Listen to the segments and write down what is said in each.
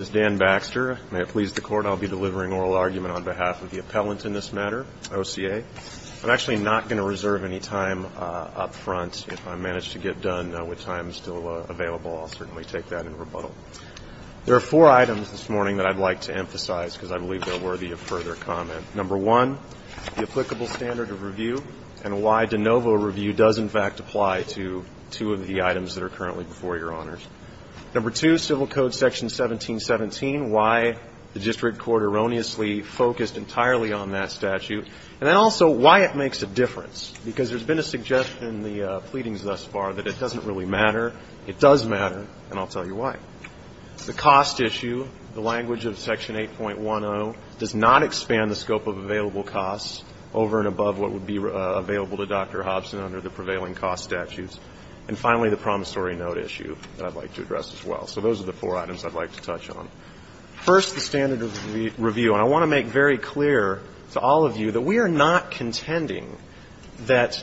I'll be delivering oral argument on behalf of the appellant in this matter, OCA. I'm actually not going to reserve any time up front. If I manage to get done with time still available, I'll certainly take that in rebuttal. There are four items this morning that I'd like to emphasize because I believe they're worthy of further comment. Number one, the applicable standard of review and why de novo review does, in fact, apply to two of the items that are currently before your honors. Number two, Civil Code Section 1717, why the district court erroneously focused entirely on that statute. And then also why it makes a difference, because there's been a suggestion in the pleadings thus far that it doesn't really matter. It does matter, and I'll tell you why. The cost issue, the language of Section 8.10, does not expand the scope of available costs over and above what would be available to Dr. Hobson under the prevailing cost statutes. And finally, the promissory note issue that I'd like to address as well. So those are the four items I'd like to touch on. First, the standard of review. And I want to make very clear to all of you that we are not contending that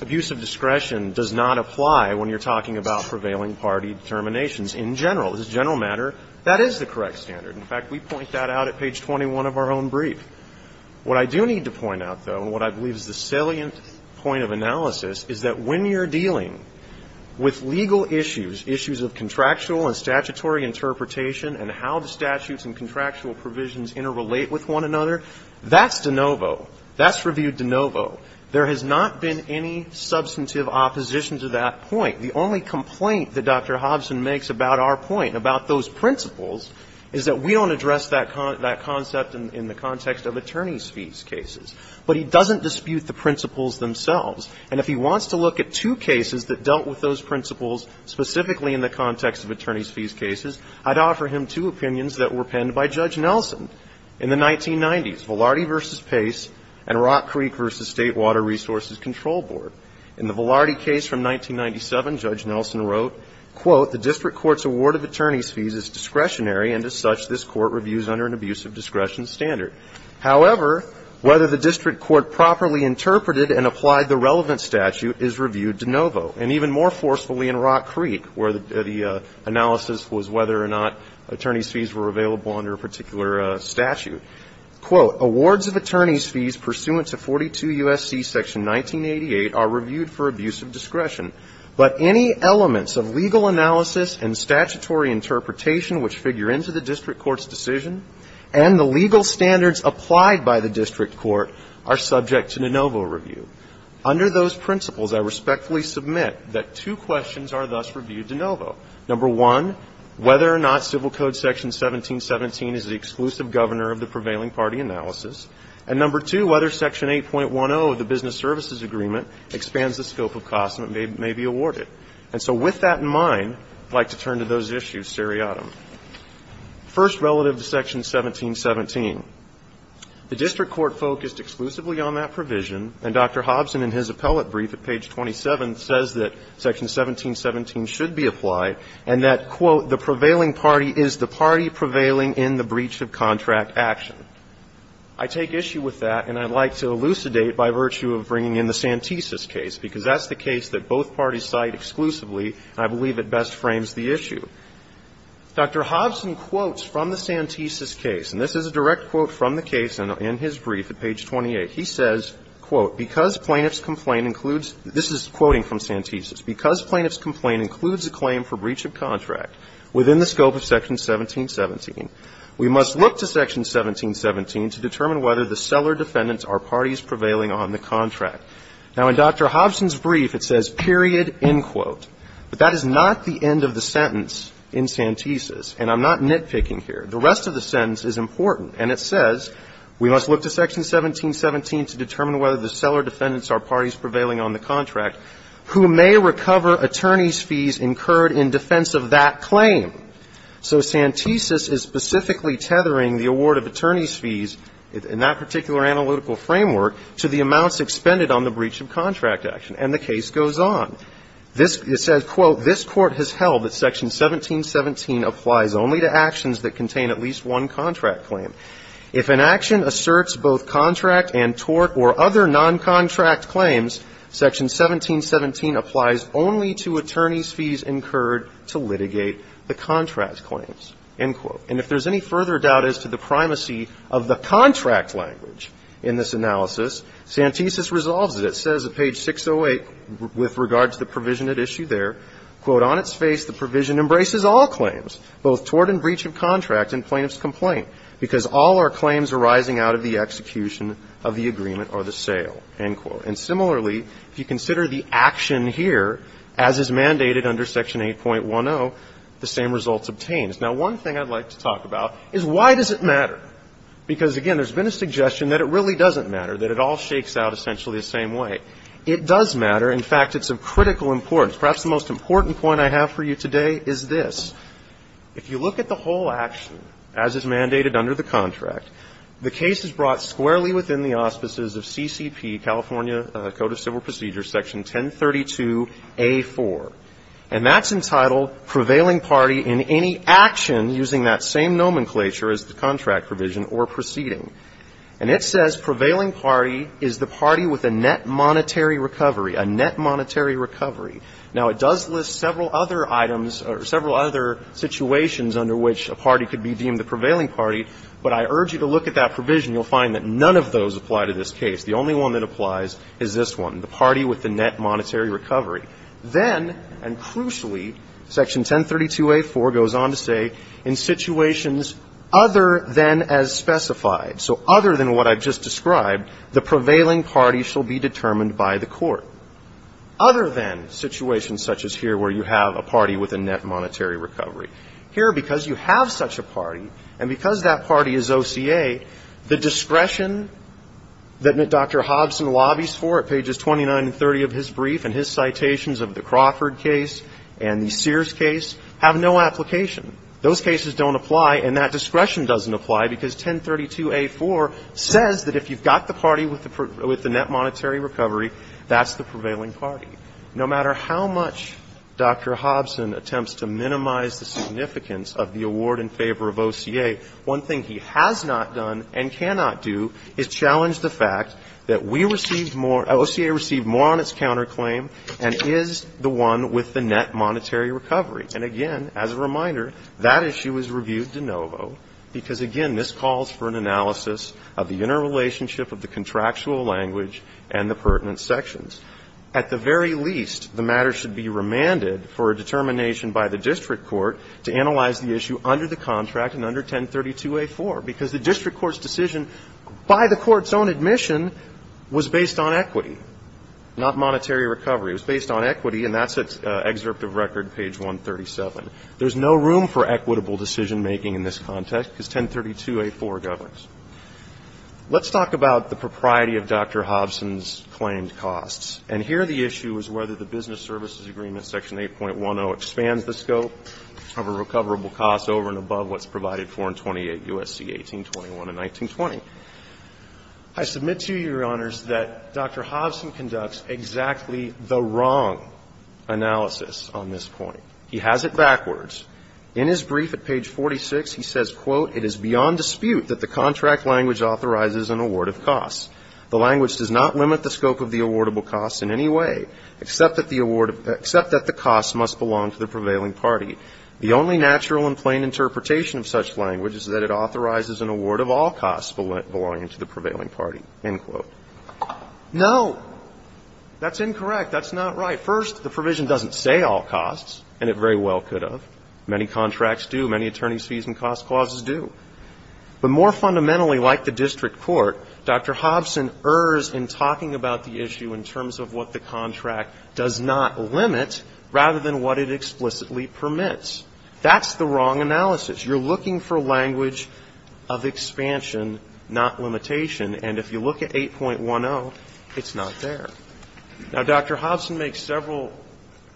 abuse of discretion does not apply when you're talking about prevailing party determinations in general. As a general matter, that is the correct standard. In fact, we point that out at page 21 of our own brief. What I do need to point out, though, and what I believe is the salient point of analysis, is that when you're dealing with legal issues, issues of contractual and statutory interpretation, and how the statutes and contractual provisions interrelate with one another, that's de novo. That's reviewed de novo. There has not been any substantive opposition to that point. The only complaint that Dr. Hobson makes about our point, about those principles, is that we don't address that concept in the context of attorney's fees cases. But he doesn't dispute the principles themselves. And if he wants to look at two cases that dealt with those principles specifically in the context of attorney's fees cases, I'd offer him two opinions that were penned by Judge Nelson in the 1990s, Velarde v. Pace and Rock Creek v. State Water Resources Control Board. In the Velarde case from 1997, Judge Nelson wrote, quote, the district court's award of attorney's fees is discretionary, and as such, this court reviews under an abuse of discretion standard. However, whether the district court properly interpreted and applied the relevant statute is reviewed de novo, and even more forcefully in Rock Creek, where the analysis was whether or not attorney's fees were available under a particular statute. Quote, awards of attorney's fees pursuant to 42 U.S.C. section 1988 are reviewed for abuse of discretion, but any elements of legal analysis and statutory interpretation which figure into the district court's decision and the legal standards applied by the district court are subject to de novo review. Under those principles, I respectfully submit that two questions are thus reviewed de novo. Number one, whether or not Civil Code section 1717 is the exclusive governor of the prevailing party analysis. And number two, whether section 8.10 of the Business Services Agreement expands the scope of costs that may be awarded. And so with that in mind, I'd like to turn to those issues seriatim. First, relative to section 1717, the district court focused exclusively on that provision, and Dr. Hobson in his appellate brief at page 27 says that section 1717 should be applied, and that, quote, the prevailing party is the party prevailing in the breach of contract action. I take issue with that, and I'd like to elucidate by virtue of bringing in the Santisus case, because that's the case that both parties cite exclusively. I believe it best frames the issue. Dr. Hobson quotes from the Santisus case, and this is a direct quote from the case in his brief at page 28. He says, quote, because plaintiff's complaint includes the claim for breach of contract within the scope of section 1717, we must look to section 1717 to determine whether the seller defendants are parties prevailing on the contract. Now, in Dr. Hobson's brief, it says, period, end quote. But that is not the end of the sentence in Santisus, and I'm not nitpicking here. The rest of the sentence is important, and it says we must look to section 1717 to determine whether the seller defendants are parties prevailing on the contract who may recover attorney's fees incurred in defense of that claim. So Santisus is specifically tethering the award of attorney's fees in that particular analytical framework to the amounts expended on the breach of contract action. And the case goes on. This says, quote, this Court has held that section 1717 applies only to actions that contain at least one contract claim. If an action asserts both contract and tort or other noncontract claims, section 1717 applies only to attorney's fees incurred to litigate the contract claims, end quote. And if there's any further doubt as to the primacy of the contract language in this analysis, Santisus resolves it. It says at page 608 with regard to the provision at issue there, quote, on its face, the provision embraces all claims, both tort and breach of contract in plaintiff's complaint, because all are claims arising out of the execution of the agreement or the sale, end quote. And similarly, if you consider the action here, as is mandated under section 8.10, the same results obtained. Now, one thing I'd like to talk about is why does it matter? Because, again, there's been a suggestion that it really doesn't matter, that it all shakes out essentially the same way. It does matter. In fact, it's of critical importance. Perhaps the most important point I have for you today is this. If you look at the whole action, as is mandated under the contract, the case is brought squarely within the auspices of CCP, California Code of Civil Procedures, section 1032A4. And that's entitled prevailing party in any action using that same nomenclature as the contract provision or proceeding. And it says prevailing party is the party with a net monetary recovery, a net monetary recovery. Now, it does list several other items or several other situations under which a party could be deemed a prevailing party, but I urge you to look at that provision. You'll find that none of those apply to this case. The only one that applies is this one, the party with the net monetary recovery. Then, and crucially, section 1032A4 goes on to say, in situations other than as specified, so other than what I've just described, the prevailing party shall be determined by the court. Other than situations such as here where you have a party with a net monetary recovery. Here, because you have such a party, and because that party is OCA, the discretion that Dr. Hobson lobbies for at pages 29 and 30 of his brief and his citations of the Crawford case and the Sears case have no application. Those cases don't apply, and that discretion doesn't apply because 1032A4 says that if you've got the party with the net monetary recovery, that's the prevailing party. No matter how much Dr. Hobson attempts to minimize the significance of the award in favor of OCA, one thing he has not done and cannot do is challenge the fact that we received more, OCA received more on its counterclaim and is the one with the net monetary recovery. And again, as a reminder, that issue is reviewed de novo, because again, this calls for an analysis of the interrelationship of the contractual language and the pertinent sections. At the very least, the matter should be remanded for a determination by the district court to analyze the issue under the contract and under 1032A4, because the district court's decision by the court's own admission was based on equity, not monetary recovery. It was based on equity, and that's at excerpt of record, page 137. There's no room for equitable decision-making in this context because 1032A4 governs. Let's talk about the propriety of Dr. Hobson's claimed costs. And here the issue is whether the business services agreement, section 8.10, expands the scope of a recoverable cost over and above what's provided for in 28 U.S.C. 1821 and 1920. I submit to you, Your Honors, that Dr. Hobson conducts exactly the wrong analysis on this point. He has it backwards. In his brief at page 46, he says, quote, No. That's incorrect. That's not right. First, the provision doesn't say all costs, and it very well could have. Many contracts do. Many attorneys' fees and cost clauses do. But more fundamentally, like the district court, Dr. Hobson errs in talking about the issue in terms of what the contract does not limit rather than what it explicitly permits. That's the wrong analysis. You're looking for language of expansion, not limitation. And if you look at 8.10, it's not there. Now, Dr. Hobson makes several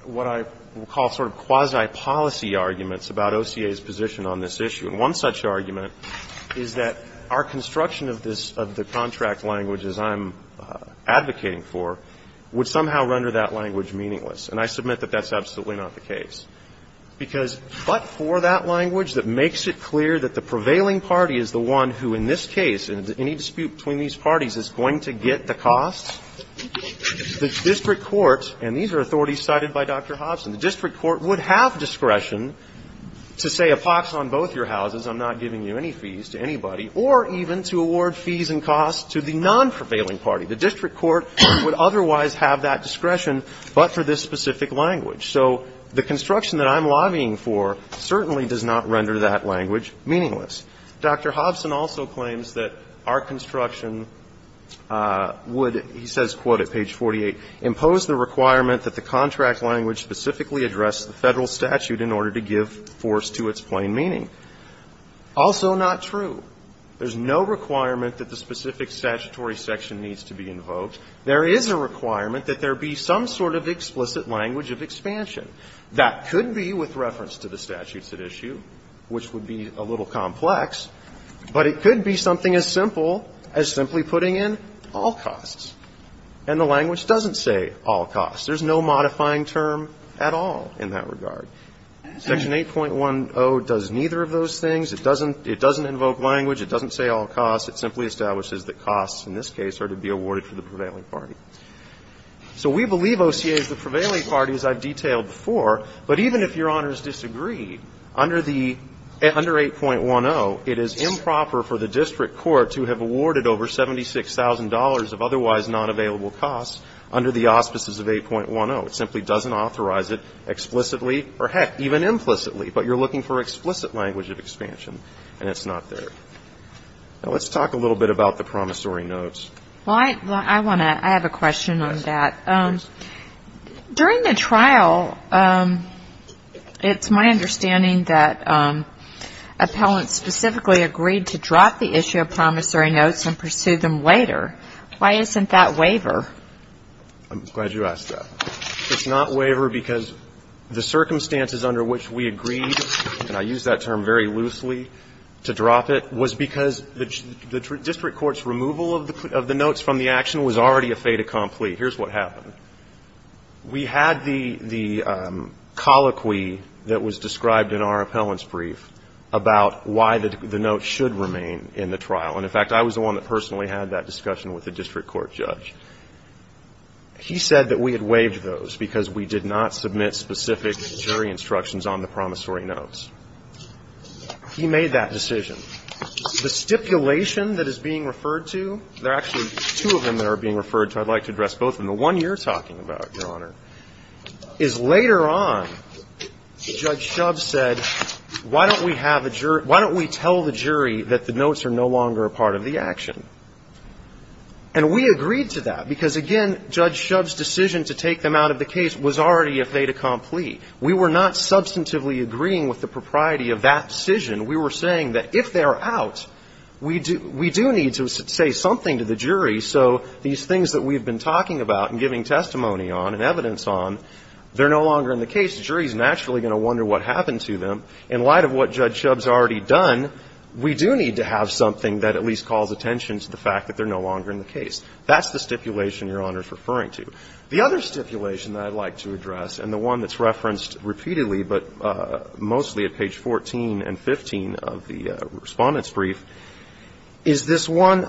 what I would call sort of quasi-policy arguments about OCA's position on this issue. And one such argument is that our construction of this, of the contract language as I'm advocating for, would somehow render that language meaningless. And I submit that that's absolutely not the case. Because but for that language that makes it clear that the prevailing party is the one who in this case, in any dispute between these parties, is going to get the cost, the district court, and these are authorities cited by Dr. Hobson, the district court would have discretion to say a pox on both your houses. I'm not giving you any fees to anybody. Or even to award fees and costs to the non-prevailing party. The district court would otherwise have that discretion, but for this specific language. So the construction that I'm lobbying for certainly does not render that language meaningless. Dr. Hobson also claims that our construction would, he says, quote, at page 48, impose the requirement that the contract language specifically address the Federal statute in order to give force to its plain meaning. Also not true. There's no requirement that the specific statutory section needs to be invoked. There is a requirement that there be some sort of explicit language of expansion. That could be with reference to the statutes at issue, which would be a little complex, but it could be something as simple as simply putting in all costs. And the language doesn't say all costs. There's no modifying term at all in that regard. Section 8.10 does neither of those things. It doesn't invoke language. It doesn't say all costs. It simply establishes that costs in this case are to be awarded to the prevailing party. So we believe OCA is the prevailing party, as I've detailed before, but even if Your Honors disagree, under 8.10, it is improper for the district court to have awarded over $76,000 of otherwise not available costs under the auspices of 8.10. It simply doesn't authorize it explicitly or, heck, even implicitly. But you're looking for explicit language of expansion, and it's not there. Now, let's talk a little bit about the promissory notes. Well, I want to add a question on that. During the trial, it's my understanding that appellants specifically agreed to drop the issue of promissory notes and pursue them later. Why isn't that waiver? I'm glad you asked that. It's not waiver because the circumstances under which we agreed, and I use that term very loosely to drop it, was because the district court's removal of the notes from the action was already a fait accompli. Here's what happened. We had the colloquy that was described in our appellant's brief about why the notes should remain in the trial. And, in fact, I was the one that personally had that discussion with the district court judge. He said that we had waived those because we did not submit specific jury instructions on the promissory notes. He made that decision. The stipulation that is being referred to, there are actually two of them that are being referred to. I'd like to address both. And the one you're talking about, Your Honor, is later on, Judge Shub said, why don't we tell the jury that the notes are no longer a part of the action? And we agreed to that because, again, Judge Shub's decision to take them out of the case was already a fait accompli. We were not substantively agreeing with the propriety of that decision. We were saying that if they're out, we do need to say something to the jury so these things that we've been talking about and giving testimony on and evidence on, they're no longer in the case. The jury's naturally going to wonder what happened to them. In light of what Judge Shub's already done, we do need to have something that at least calls attention to the fact that they're no longer in the case. That's the stipulation Your Honor's referring to. The other stipulation that I'd like to address, and the one that's referenced repeatedly, but mostly at page 14 and 15 of the Respondent's Brief, is this one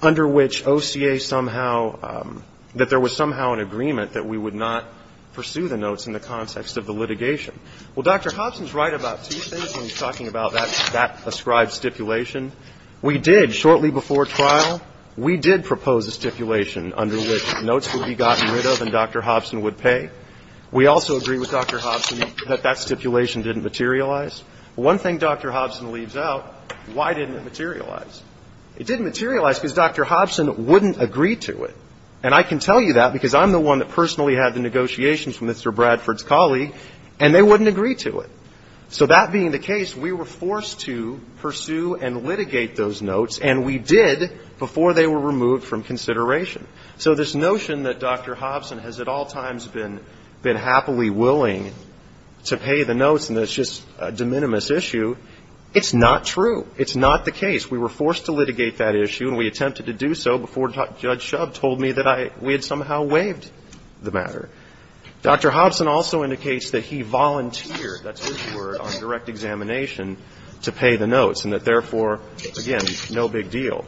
under which OCA somehow, that there was somehow an agreement that we would not pursue the notes in the context of the litigation. Well, Dr. Hobson's right about two things when he's talking about that ascribed stipulation. We did, shortly before trial, we did propose a stipulation under which notes would be gotten rid of and Dr. Hobson would pay. We also agree with Dr. Hobson that that stipulation didn't materialize. One thing Dr. Hobson leaves out, why didn't it materialize? It didn't materialize because Dr. Hobson wouldn't agree to it. And I can tell you that because I'm the one that personally had the negotiations from Mr. Bradford's colleague and they wouldn't agree to it. So that being the case, we were forced to pursue and litigate those notes, and we did before they were removed from consideration. So this notion that Dr. Hobson has at all times been happily willing to pay the notes and it's just a de minimis issue, it's not true. It's not the case. We were forced to litigate that issue and we attempted to do so before Judge Schub told me that we had somehow waived the matter. Dr. Hobson also indicates that he volunteered, that's his word, on direct examination to pay the notes and that therefore, again, no big deal.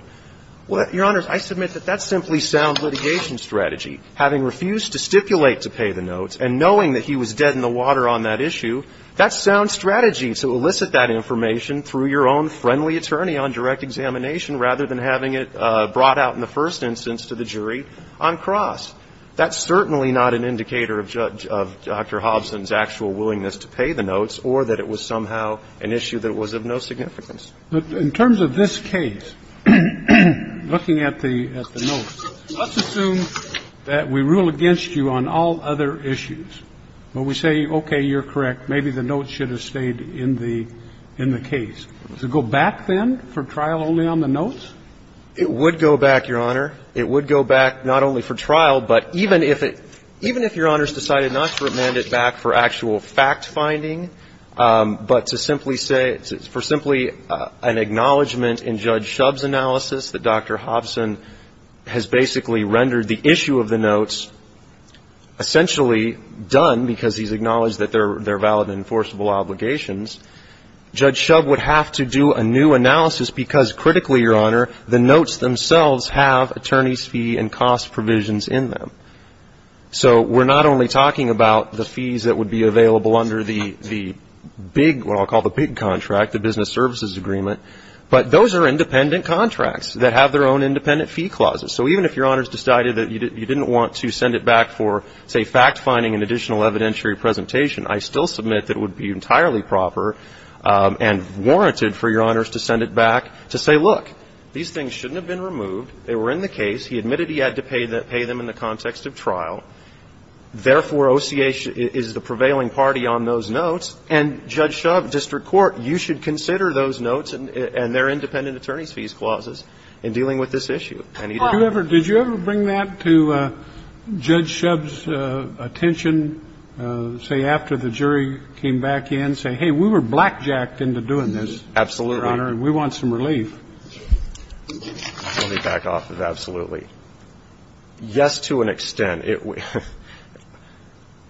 Well, Your Honors, I submit that that's simply sound litigation strategy. Having refused to stipulate to pay the notes and knowing that he was dead in the water on that issue, that's sound strategy to elicit that information through your own friendly attorney on direct examination rather than having it brought out in the first instance to the jury on cross. That's certainly not an indicator of Judge Dr. Hobson's actual willingness to pay the notes or that it was somehow an issue that was of no significance. But in terms of this case, looking at the notes, let's assume that we rule against you on all other issues. When we say, okay, you're correct, maybe the notes should have stayed in the case. Does it go back then for trial only on the notes? It would go back, Your Honor. It would go back not only for trial, but even if it – even if Your Honors decided not to remand it back for actual fact-finding, but to simply say – for simply an acknowledgment in Judge Schub's analysis that Dr. Hobson has basically rendered the issue of the notes essentially done because he's acknowledged that they're And so, we have to do a new analysis because, critically, Your Honor, the notes themselves have attorneys' fee and cost provisions in them. So we're not only talking about the fees that would be available under the big – what I'll call the big contract, the Business Services Agreement, but those are independent contracts that have their own independent fee clauses. So even if Your Honors decided that you didn't want to send it back for, say, back, to say, look, these things shouldn't have been removed. They were in the case. He admitted he had to pay them in the context of trial. Therefore, OCA is the prevailing party on those notes. And, Judge Schub, district court, you should consider those notes and their independent attorneys' fees clauses in dealing with this issue. Did you ever bring that to Judge Schub's attention, say, after the jury came back in, saying, hey, we were blackjacked into doing this? Absolutely. Your Honor, and we want some relief. Let me back off of absolutely. Yes, to an extent.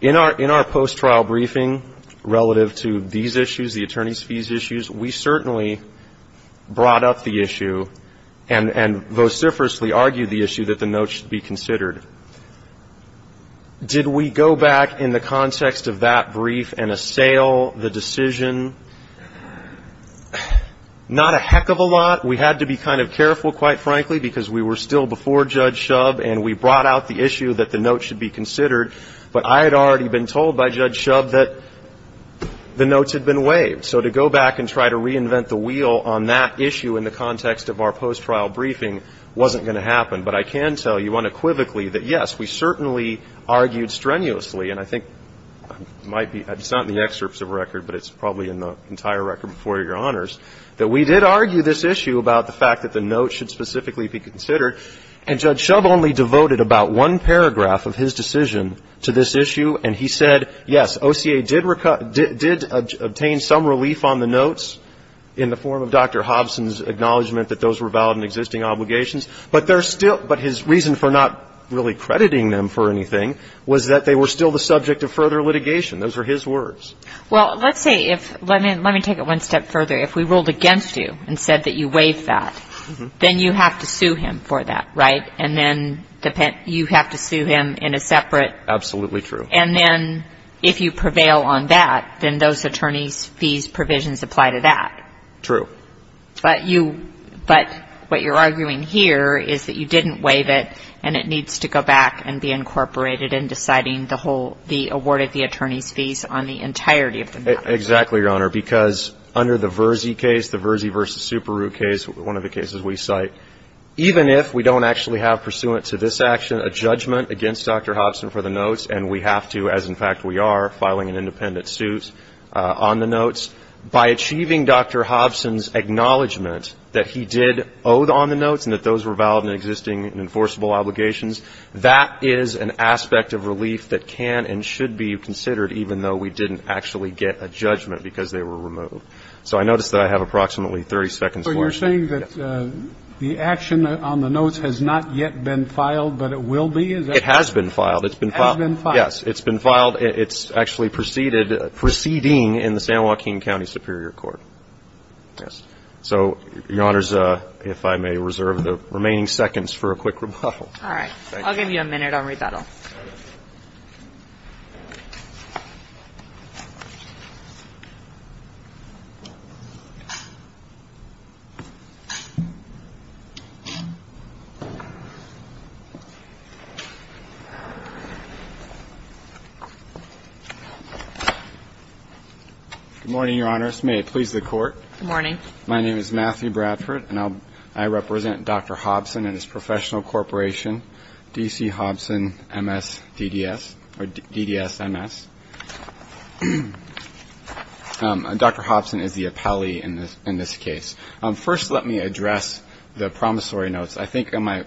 In our post-trial briefing, relative to these issues, the attorneys' fees issues, we certainly brought up the issue and vociferously argued the issue that the notes should be considered. Did we go back in the context of that brief and assail the decision? Not a heck of a lot. We had to be kind of careful, quite frankly, because we were still before Judge Schub, and we brought out the issue that the notes should be considered. But I had already been told by Judge Schub that the notes had been waived. So to go back and try to reinvent the wheel on that issue in the context of our post-trial briefing wasn't going to happen. But I can tell you unequivocally that, yes, we certainly argued strenuously, and I think it's not in the excerpts of the record, but it's probably in the entire record before your honors, that we did argue this issue about the fact that the notes should specifically be considered. And Judge Schub only devoted about one paragraph of his decision to this issue. And he said, yes, OCA did obtain some relief on the notes in the form of Dr. Hobson's acknowledgement that those were But his reason for not really crediting them for anything was that they were still the subject of further litigation. Those were his words. Well, let's say if, let me take it one step further. If we ruled against you and said that you waived that, then you have to sue him for that, right? And then you have to sue him in a separate. Absolutely true. And then if you prevail on that, then those attorney's fees provisions apply to that. True. But what you're arguing here is that you didn't waive it, and it needs to go back and be incorporated in deciding the award of the attorney's fees on the entirety of the matter. Exactly, Your Honor, because under the Verzi case, the Verzi v. Superroot case, one of the cases we cite, even if we don't actually have pursuant to this action a judgment against Dr. Hobson for the notes, and we have to, as in fact we are, filing an independent suit on the notes, by achieving Dr. Hobson's acknowledgment that he did owe on the notes and that those were valid and existing and enforceable obligations, that is an aspect of relief that can and should be considered, even though we didn't actually get a judgment because they were removed. So I notice that I have approximately 30 seconds left. So you're saying that the action on the notes has not yet been filed, but it will be? It has been filed. It has been filed. Yes, it's been filed. It's actually proceeding in the San Joaquin County Superior Court. So, Your Honor, if I may reserve the remaining seconds for a quick rebuttal. All right. I'll give you a minute on rebuttal. Good morning, Your Honors. May it please the Court. Good morning. My name is Matthew Bradford, and I represent Dr. Hobson and his professional corporation, D.C. Hobson, M.S., DDS, or DDSMS. Dr. Hobson is the appellee in this case. First, let me address the promissory notes. I think my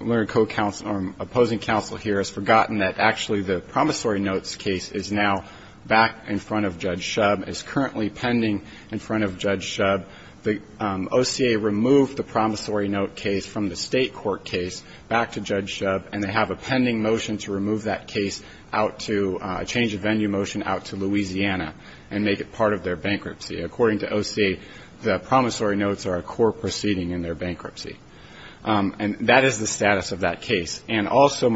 opposing counsel here has forgotten that actually the promissory notes case is now back in front of Judge Shub, is currently pending in front of Judge Shub. The OCA removed the promissory note case from the state court case back to Judge Shub, and they have a pending motion to remove that case out to change of venue motion out to Louisiana and make it part of their bankruptcy. According to OCA, the promissory notes are a core proceeding in their bankruptcy. And that is the status of that case. And also,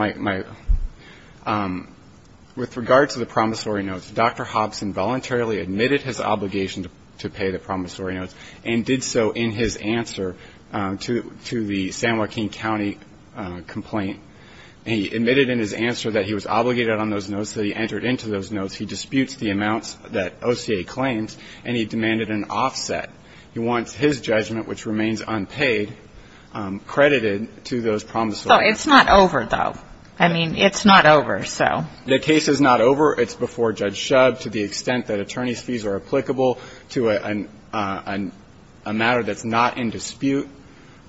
with regard to the promissory notes, Dr. Hobson voluntarily admitted his obligation to pay the promissory notes and did so in his answer to the San Joaquin County complaint. He admitted in his answer that he was obligated on those notes, that he entered into those notes. He disputes the amounts that OCA claims, and he demanded an offset. He wants his judgment, which remains unpaid, credited to those promissory notes. It's not over, though. I mean, it's not over, so. The case is not over. It's before Judge Shub. To the extent that attorney's fees are applicable to a matter that's not in dispute,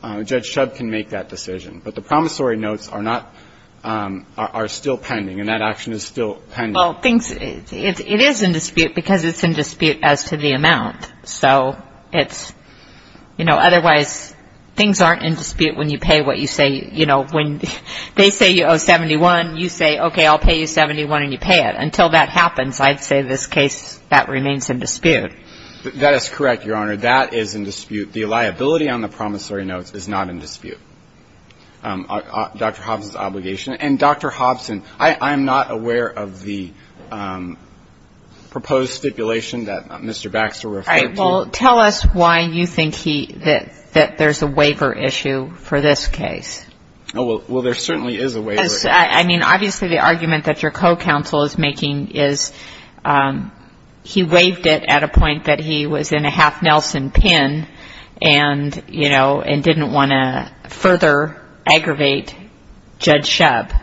Judge Shub can make that decision. But the promissory notes are not, are still pending, and that action is still pending. Well, it is in dispute because it's in dispute as to the amount. So it's, you know, otherwise things aren't in dispute when you pay what you say, you know. When they say you owe 71, you say, okay, I'll pay you 71 and you pay it. Until that happens, I'd say this case, that remains in dispute. That is correct, Your Honor. That is in dispute. The liability on the promissory notes is not in dispute, Dr. Hobson's obligation. And, Dr. Hobson, I am not aware of the proposed stipulation that Mr. Baxter referred to. All right. Well, tell us why you think he, that there's a waiver issue for this case. Well, there certainly is a waiver issue. I mean, obviously the argument that your co-counsel is making is he waived it at a point that he was in a half-Nelson pen and, you know, and didn't want to further aggravate Judge Shub.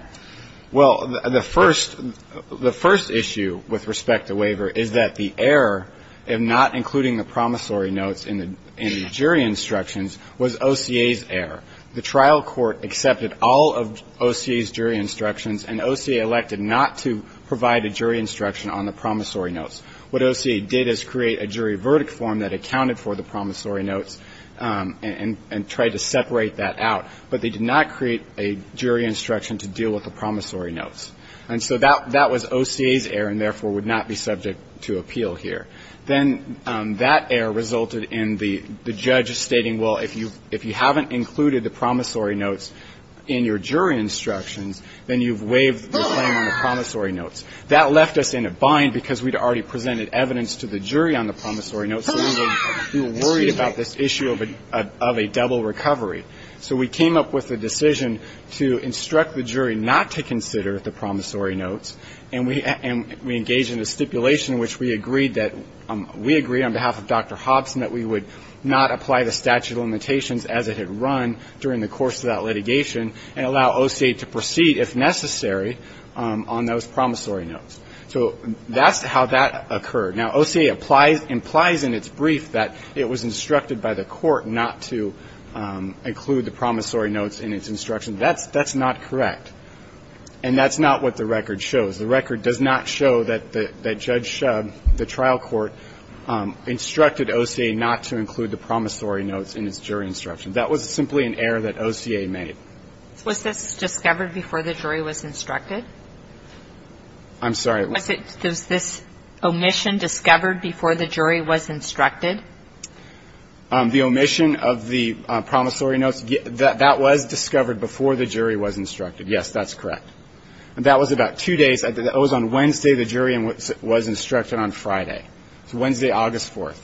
Well, the first issue with respect to waiver is that the error of not including the promissory notes in the jury instructions was OCA's error. The trial court accepted all of OCA's jury instructions, and OCA elected not to provide a jury instruction on the promissory notes. What OCA did is create a jury verdict form that accounted for the promissory notes and tried to separate that out. But they did not create a jury instruction to deal with the promissory notes. And so that was OCA's error and, therefore, would not be subject to appeal here. Then that error resulted in the judge stating, well, if you haven't included the promissory notes in your jury instructions, then you've waived the claim on the promissory notes. That left us in a bind because we'd already presented evidence to the jury on the promissory notes, so we were worried about this issue of a double recovery. So we came up with a decision to instruct the jury not to consider the promissory And we engaged in a stipulation in which we agreed that we agreed on behalf of Dr. Hobson that we would not apply the statute of limitations as it had run during the course of that litigation and allow OCA to proceed, if necessary, on those promissory notes. So that's how that occurred. Now, OCA implies in its brief that it was instructed by the court not to include the promissory notes in its instructions. That's not correct. And that's not what the record shows. The record does not show that Judge Shub, the trial court, instructed OCA not to include the promissory notes in its jury instructions. That was simply an error that OCA made. Was this discovered before the jury was instructed? I'm sorry? Was this omission discovered before the jury was instructed? The omission of the promissory notes, that was discovered before the jury was instructed, yes. That's correct. And that was about two days. That was on Wednesday. The jury was instructed on Friday. So Wednesday, August 4th.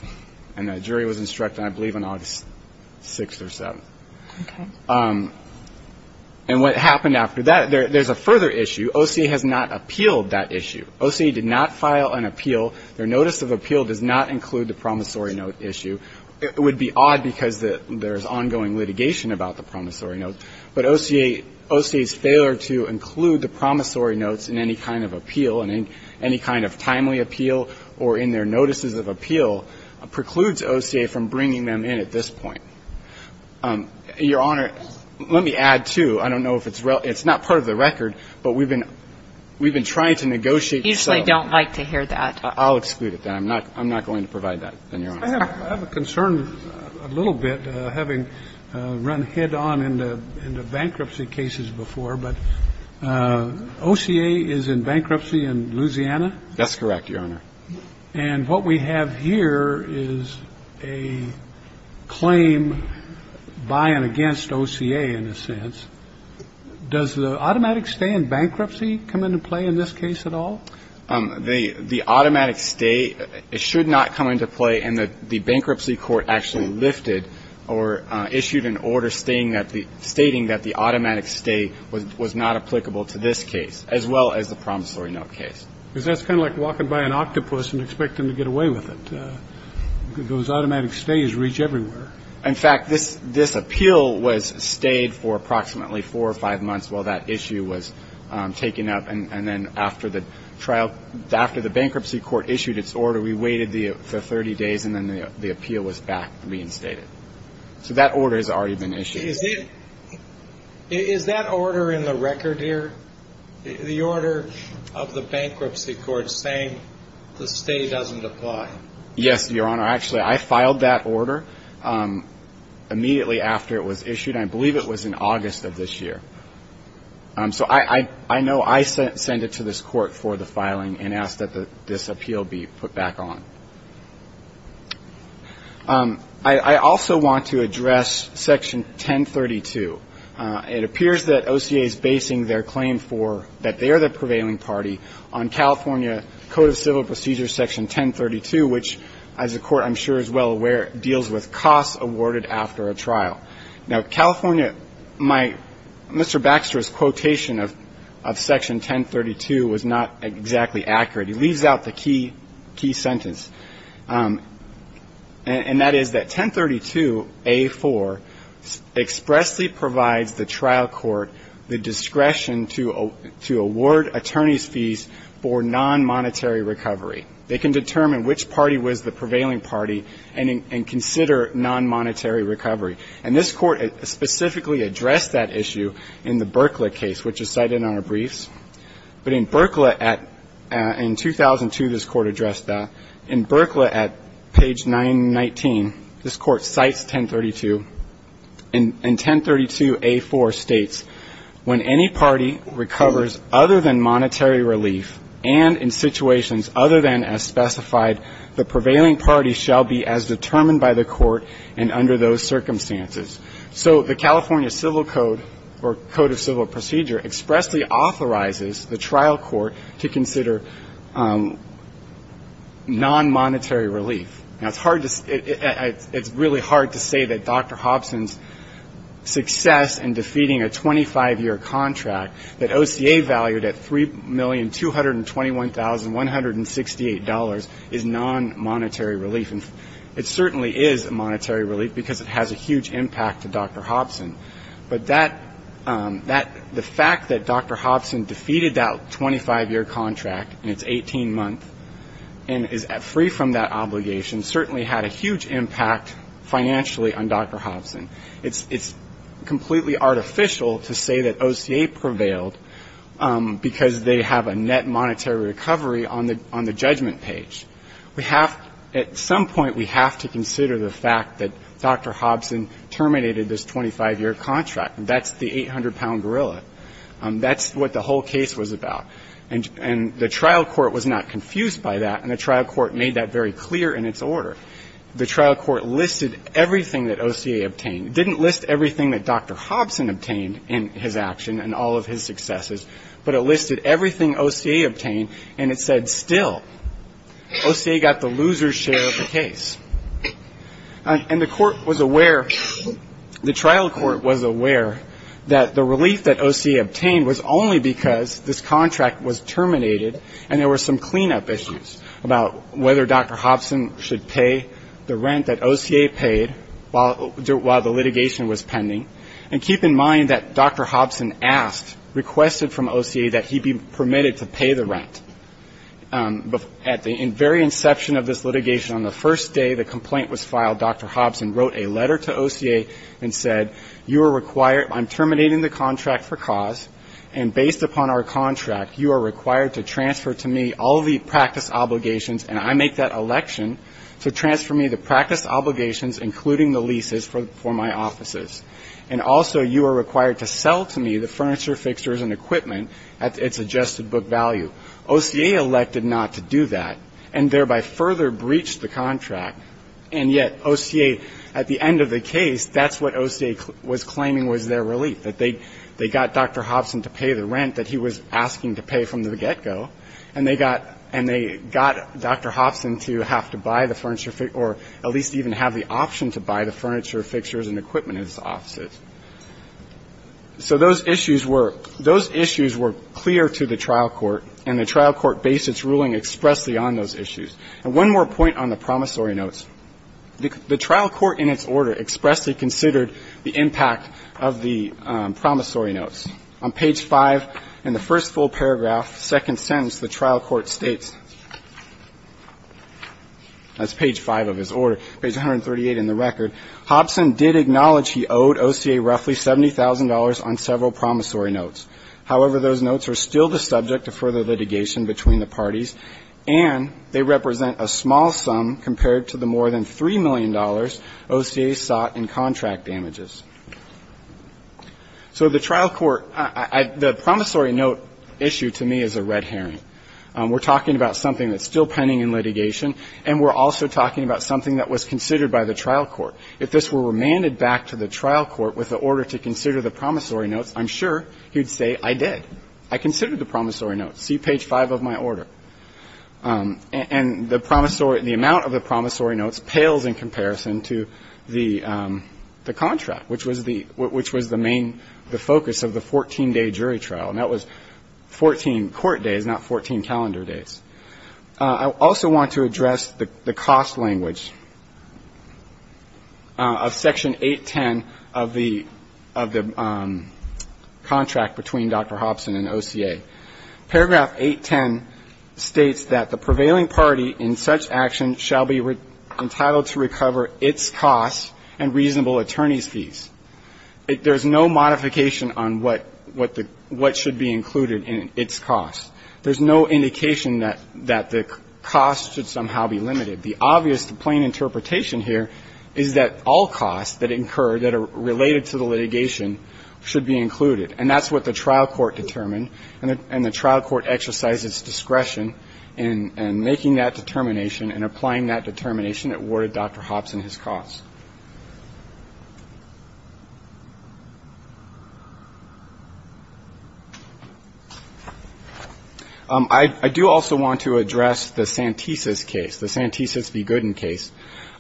And the jury was instructed, I believe, on August 6th or 7th. Okay. And what happened after that, there's a further issue. OCA has not appealed that issue. OCA did not file an appeal. Their notice of appeal does not include the promissory note issue. It would be odd because there's ongoing litigation about the promissory note. But OCA's failure to include the promissory notes in any kind of appeal, in any kind of timely appeal or in their notices of appeal precludes OCA from bringing them in at this point. Your Honor, let me add, too. I don't know if it's real. It's not part of the record, but we've been trying to negotiate. We usually don't like to hear that. I'll exclude it, then. I'm not going to provide that, then, Your Honor. I have a concern a little bit, having run head-on into bankruptcy cases before. But OCA is in bankruptcy in Louisiana? That's correct, Your Honor. And what we have here is a claim by and against OCA, in a sense. Does the automatic stay in bankruptcy come into play in this case at all? The automatic stay should not come into play. And the bankruptcy court actually lifted or issued an order stating that the automatic stay was not applicable to this case, as well as the promissory note case. Because that's kind of like walking by an octopus and expecting to get away with it. Those automatic stays reach everywhere. In fact, this appeal was stayed for approximately four or five months while that issue was taken up, and then after the bankruptcy court issued its order, we waited for 30 days, and then the appeal was back reinstated. So that order has already been issued. Is that order in the record here, the order of the bankruptcy court saying the stay doesn't apply? Yes, Your Honor. Actually, I filed that order immediately after it was issued. I believe it was in August of this year. So I know I sent it to this court for the filing and asked that this appeal be put back on. I also want to address Section 1032. It appears that OCA is basing their claim for that they are the prevailing party on California Code of Civil Procedures, Section 1032, which, as the court I'm sure is well aware, deals with costs awarded after a trial. Now, California, Mr. Baxter's quotation of Section 1032 was not exactly accurate. He leaves out the key sentence, and that is that 1032A4 expressly provides the trial court the discretion to award attorneys' fees for non-monetary recovery. They can determine which party was the prevailing party and consider non-monetary recovery. And this court specifically addressed that issue in the Berkley case, which is cited in our briefs. But in Berkley, in 2002, this court addressed that. In Berkley, at page 919, this court cites 1032, and 1032A4 states, when any party recovers other than monetary relief and in situations other than as specified, the prevailing party shall be as determined by the court and under those circumstances. So the California Civil Code or Code of Civil Procedure expressly authorizes the trial court to consider non-monetary relief. Now, it's hard to say that Dr. Hobson's success in defeating a 25-year contract that OCA valued at $3,221,168 is non-monetary relief. And it certainly is a monetary relief because it has a huge impact to Dr. Hobson. But that the fact that Dr. Hobson defeated that 25-year contract in its 18-month and is free from that obligation certainly had a huge impact financially on Dr. Hobson. It's completely artificial to say that OCA prevailed because they have a net monetary recovery on the judgment page. At some point, we have to consider the fact that Dr. Hobson terminated this 25-year contract. That's the 800-pound gorilla. That's what the whole case was about. And the trial court was not confused by that, and the trial court made that very clear in its order. The trial court listed everything that OCA obtained. It didn't list everything that Dr. Hobson obtained in his action and all of his successes, but it listed everything OCA obtained, and it said, still, OCA got the loser's share of the case. And the court was aware, the trial court was aware, that the relief that OCA obtained was only because this contract was terminated and there were some cleanup issues about whether Dr. Hobson should pay the rent that OCA paid while the litigation was pending. And keep in mind that Dr. Hobson asked, requested from OCA that he be permitted to pay the rent. At the very inception of this litigation, on the first day the complaint was filed, Dr. Hobson wrote a letter to OCA and said, you are required, I'm terminating the contract for cause, and based upon our contract, you are required to transfer to me all the practice obligations, and I make that election, so transfer me the practice obligations, including the leases, for my offices. And also you are required to sell to me the furniture, fixtures and equipment at its adjusted book value. OCA elected not to do that, and thereby further breached the contract. And yet OCA, at the end of the case, that's what OCA was claiming was their relief, that they got Dr. Hobson to pay the rent that he was asking to pay from the get-go, and they got Dr. Hobson to have to buy the furniture, or at least even have the option to buy the furniture, fixtures and equipment at his offices. So those issues were clear to the trial court, and the trial court based its ruling expressly on those issues. And one more point on the promissory notes. The trial court in its order expressly considered the impact of the promissory notes. On page 5 in the first full paragraph, second sentence, the trial court states, that's page 5 of his order, page 138 in the record, Hobson did acknowledge he owed OCA roughly $70,000 on several promissory notes. However, those notes are still the subject of further litigation between the parties, and they represent a small sum compared to the more than $3 million OCA sought in contract damages. So the trial court, the promissory note issue to me is a red herring. We're talking about something that's still pending in litigation, and we're also talking about something that was considered by the trial court. If this were remanded back to the trial court with the order to consider the promissory notes, I'm sure he'd say, I did. I considered the promissory notes. See page 5 of my order. And the promissory, the amount of the promissory notes pales in comparison to the contract, which was the main, the focus of the 14-day jury trial. And that was 14 court days, not 14 calendar days. I also want to address the cost language of Section 810 of the contract between Dr. Hobson and OCA. Paragraph 810 states that the prevailing party in such action shall be entitled to recover its cost and reasonable attorney's fees. There's no modification on what should be included in its cost. There's no indication that the cost should somehow be limited. The obvious, the plain interpretation here is that all costs that incur that are related to the litigation should be included. And that's what the trial court determined. And the trial court exercised its discretion in making that determination and applying that determination that awarded Dr. Hobson his cost. I do also want to address the Santesis case, the Santesis v. Gooden case.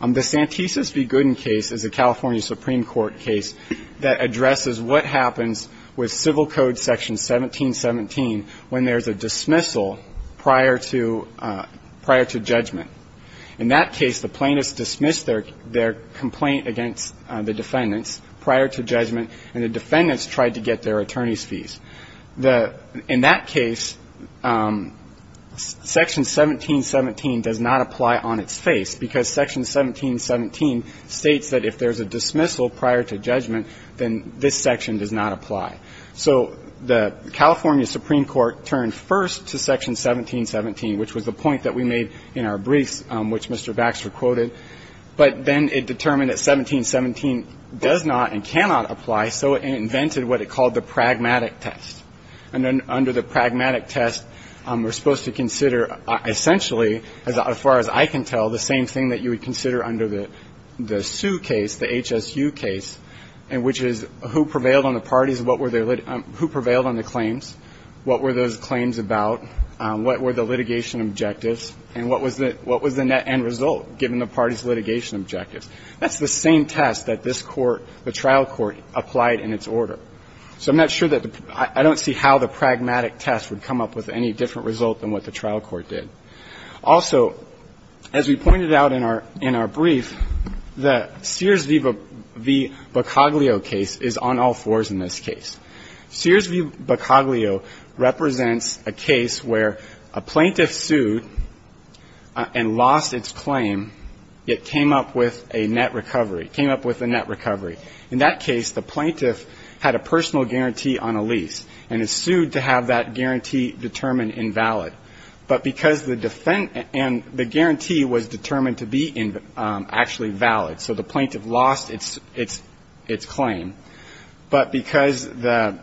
The Santesis v. Gooden case is a California Supreme Court case that addresses what happens with Civil Code Section 1717 when there's a dismissal prior to judgment. In that case, the plaintiffs dismissed their complaint against the defendants prior to judgment, and the defendants tried to get their attorney's fees. In that case, Section 1717 does not apply on its face, because Section 1717 states that if there's a dismissal prior to judgment, then this section does not apply. So the California Supreme Court turned first to Section 1717, which was the point that we made in our briefs, which Mr. Baxter quoted. But then it determined that 1717 does not and cannot apply, so it invented what it called the pragmatic test. And then under the pragmatic test, we're supposed to consider essentially, as far as I can tell, the same thing that you would consider under the Sue case, the HSU case, which is who prevailed on the parties, who prevailed on the claims, what were those claims about, what were the litigation objectives, and what was the net end result, given the parties' litigation objectives. That's the same test that this Court, the trial court, applied in its order. So I'm not sure that the – I don't see how the pragmatic test would come up with any different result than what the trial court did. Also, as we pointed out in our – in our brief, the Sears v. Bocoglio case is on all fours in this case. Sears v. Bocoglio represents a case where a plaintiff sued and lost its claim, yet came up with a net recovery, came up with a net recovery. In that case, the plaintiff had a personal guarantee on a lease and is sued to have that guarantee determined invalid. But because the defense – and the guarantee was determined to be actually valid, so the plaintiff lost its claim. But because the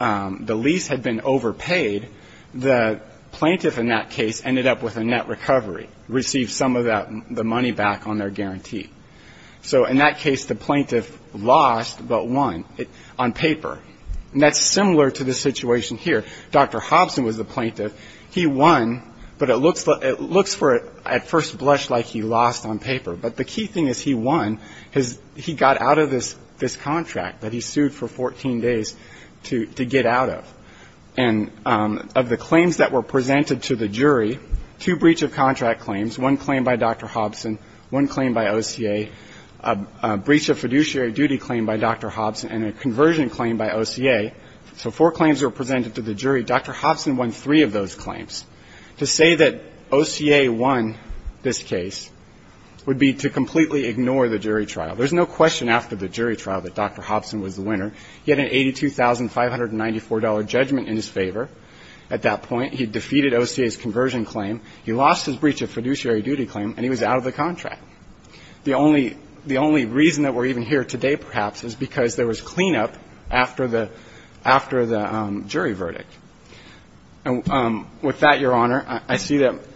lease had been overpaid, the plaintiff in that case ended up with a net recovery, received some of that – the money back on their guarantee. So in that case, the plaintiff lost but won on paper. And that's similar to the situation here. Dr. Hobson was the plaintiff. He won, but it looks – it looks for – at first blush like he lost on paper. But the key thing is he won. He got out of this contract that he sued for 14 days to get out of. And of the claims that were presented to the jury, two breach of contract claims, one claim by Dr. Hobson, one claim by OCA, a breach of fiduciary duty claim by Dr. Hobson, and a conversion claim by OCA. So four claims were presented to the jury. Dr. Hobson won three of those claims. To say that OCA won this case would be to completely ignore the jury trial. There's no question after the jury trial that Dr. Hobson was the winner. He had an $82,594 judgment in his favor at that point. He defeated OCA's conversion claim. He lost his breach of fiduciary duty claim, and he was out of the contract. The only – the only reason that we're even here today perhaps is because there was cleanup after the – after the jury verdict. And with that, Your Honor, I see that –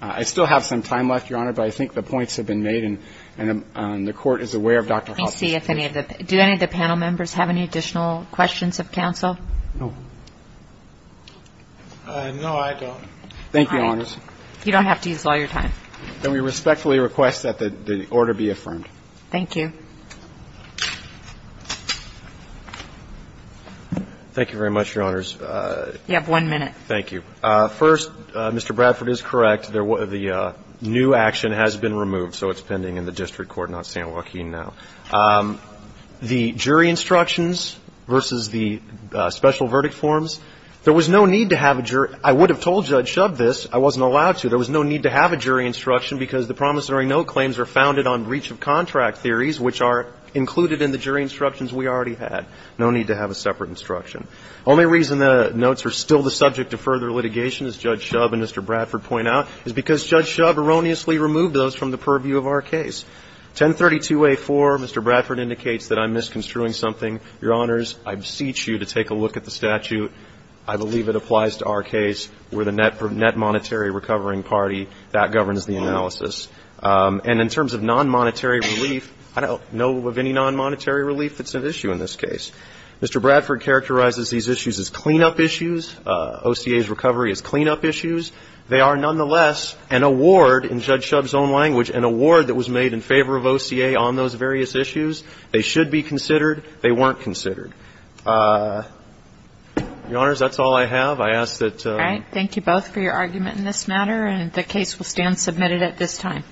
I still have some time left, Your Honor, but I think the points have been made and the Court is aware of Dr. Hobson's case. Let me see if any of the – do any of the panel members have any additional questions of counsel? No. No, I don't. Thank you, Your Honors. All right. You don't have to use all your time. And we respectfully request that the order be affirmed. Thank you. Thank you very much, Your Honors. You have one minute. Thank you. First, Mr. Bradford is correct. The new action has been removed, so it's pending in the district court, not San Joaquin now. The jury instructions versus the special verdict forms, there was no need to have a jury – I would have told Judge Shub this. I wasn't allowed to. There was no need to have a jury instruction because the promissory note claims are founded on breach of contract theories, which are included in the jury instructions we already had. No need to have a separate instruction. Only reason the notes are still the subject of further litigation, as Judge Shub and Mr. Bradford point out, is because Judge Shub erroneously removed those from the purview of our case. 1032A4, Mr. Bradford indicates that I'm misconstruing something. Your Honors, I beseech you to take a look at the statute. I believe it applies to our case. We're the Net Monetary Recovering Party. That governs the analysis. And in terms of non-monetary relief, I don't know of any non-monetary relief that's at issue in this case. Mr. Bradford characterizes these issues as clean-up issues. OCA's recovery is clean-up issues. They are, nonetheless, an award, in Judge Shub's own language, an award that was made in favor of OCA on those various issues. They should be considered. They weren't considered. Your Honors, that's all I have. I ask that – All right. Thank you both for your argument in this matter, and the case will stand submitted at this time.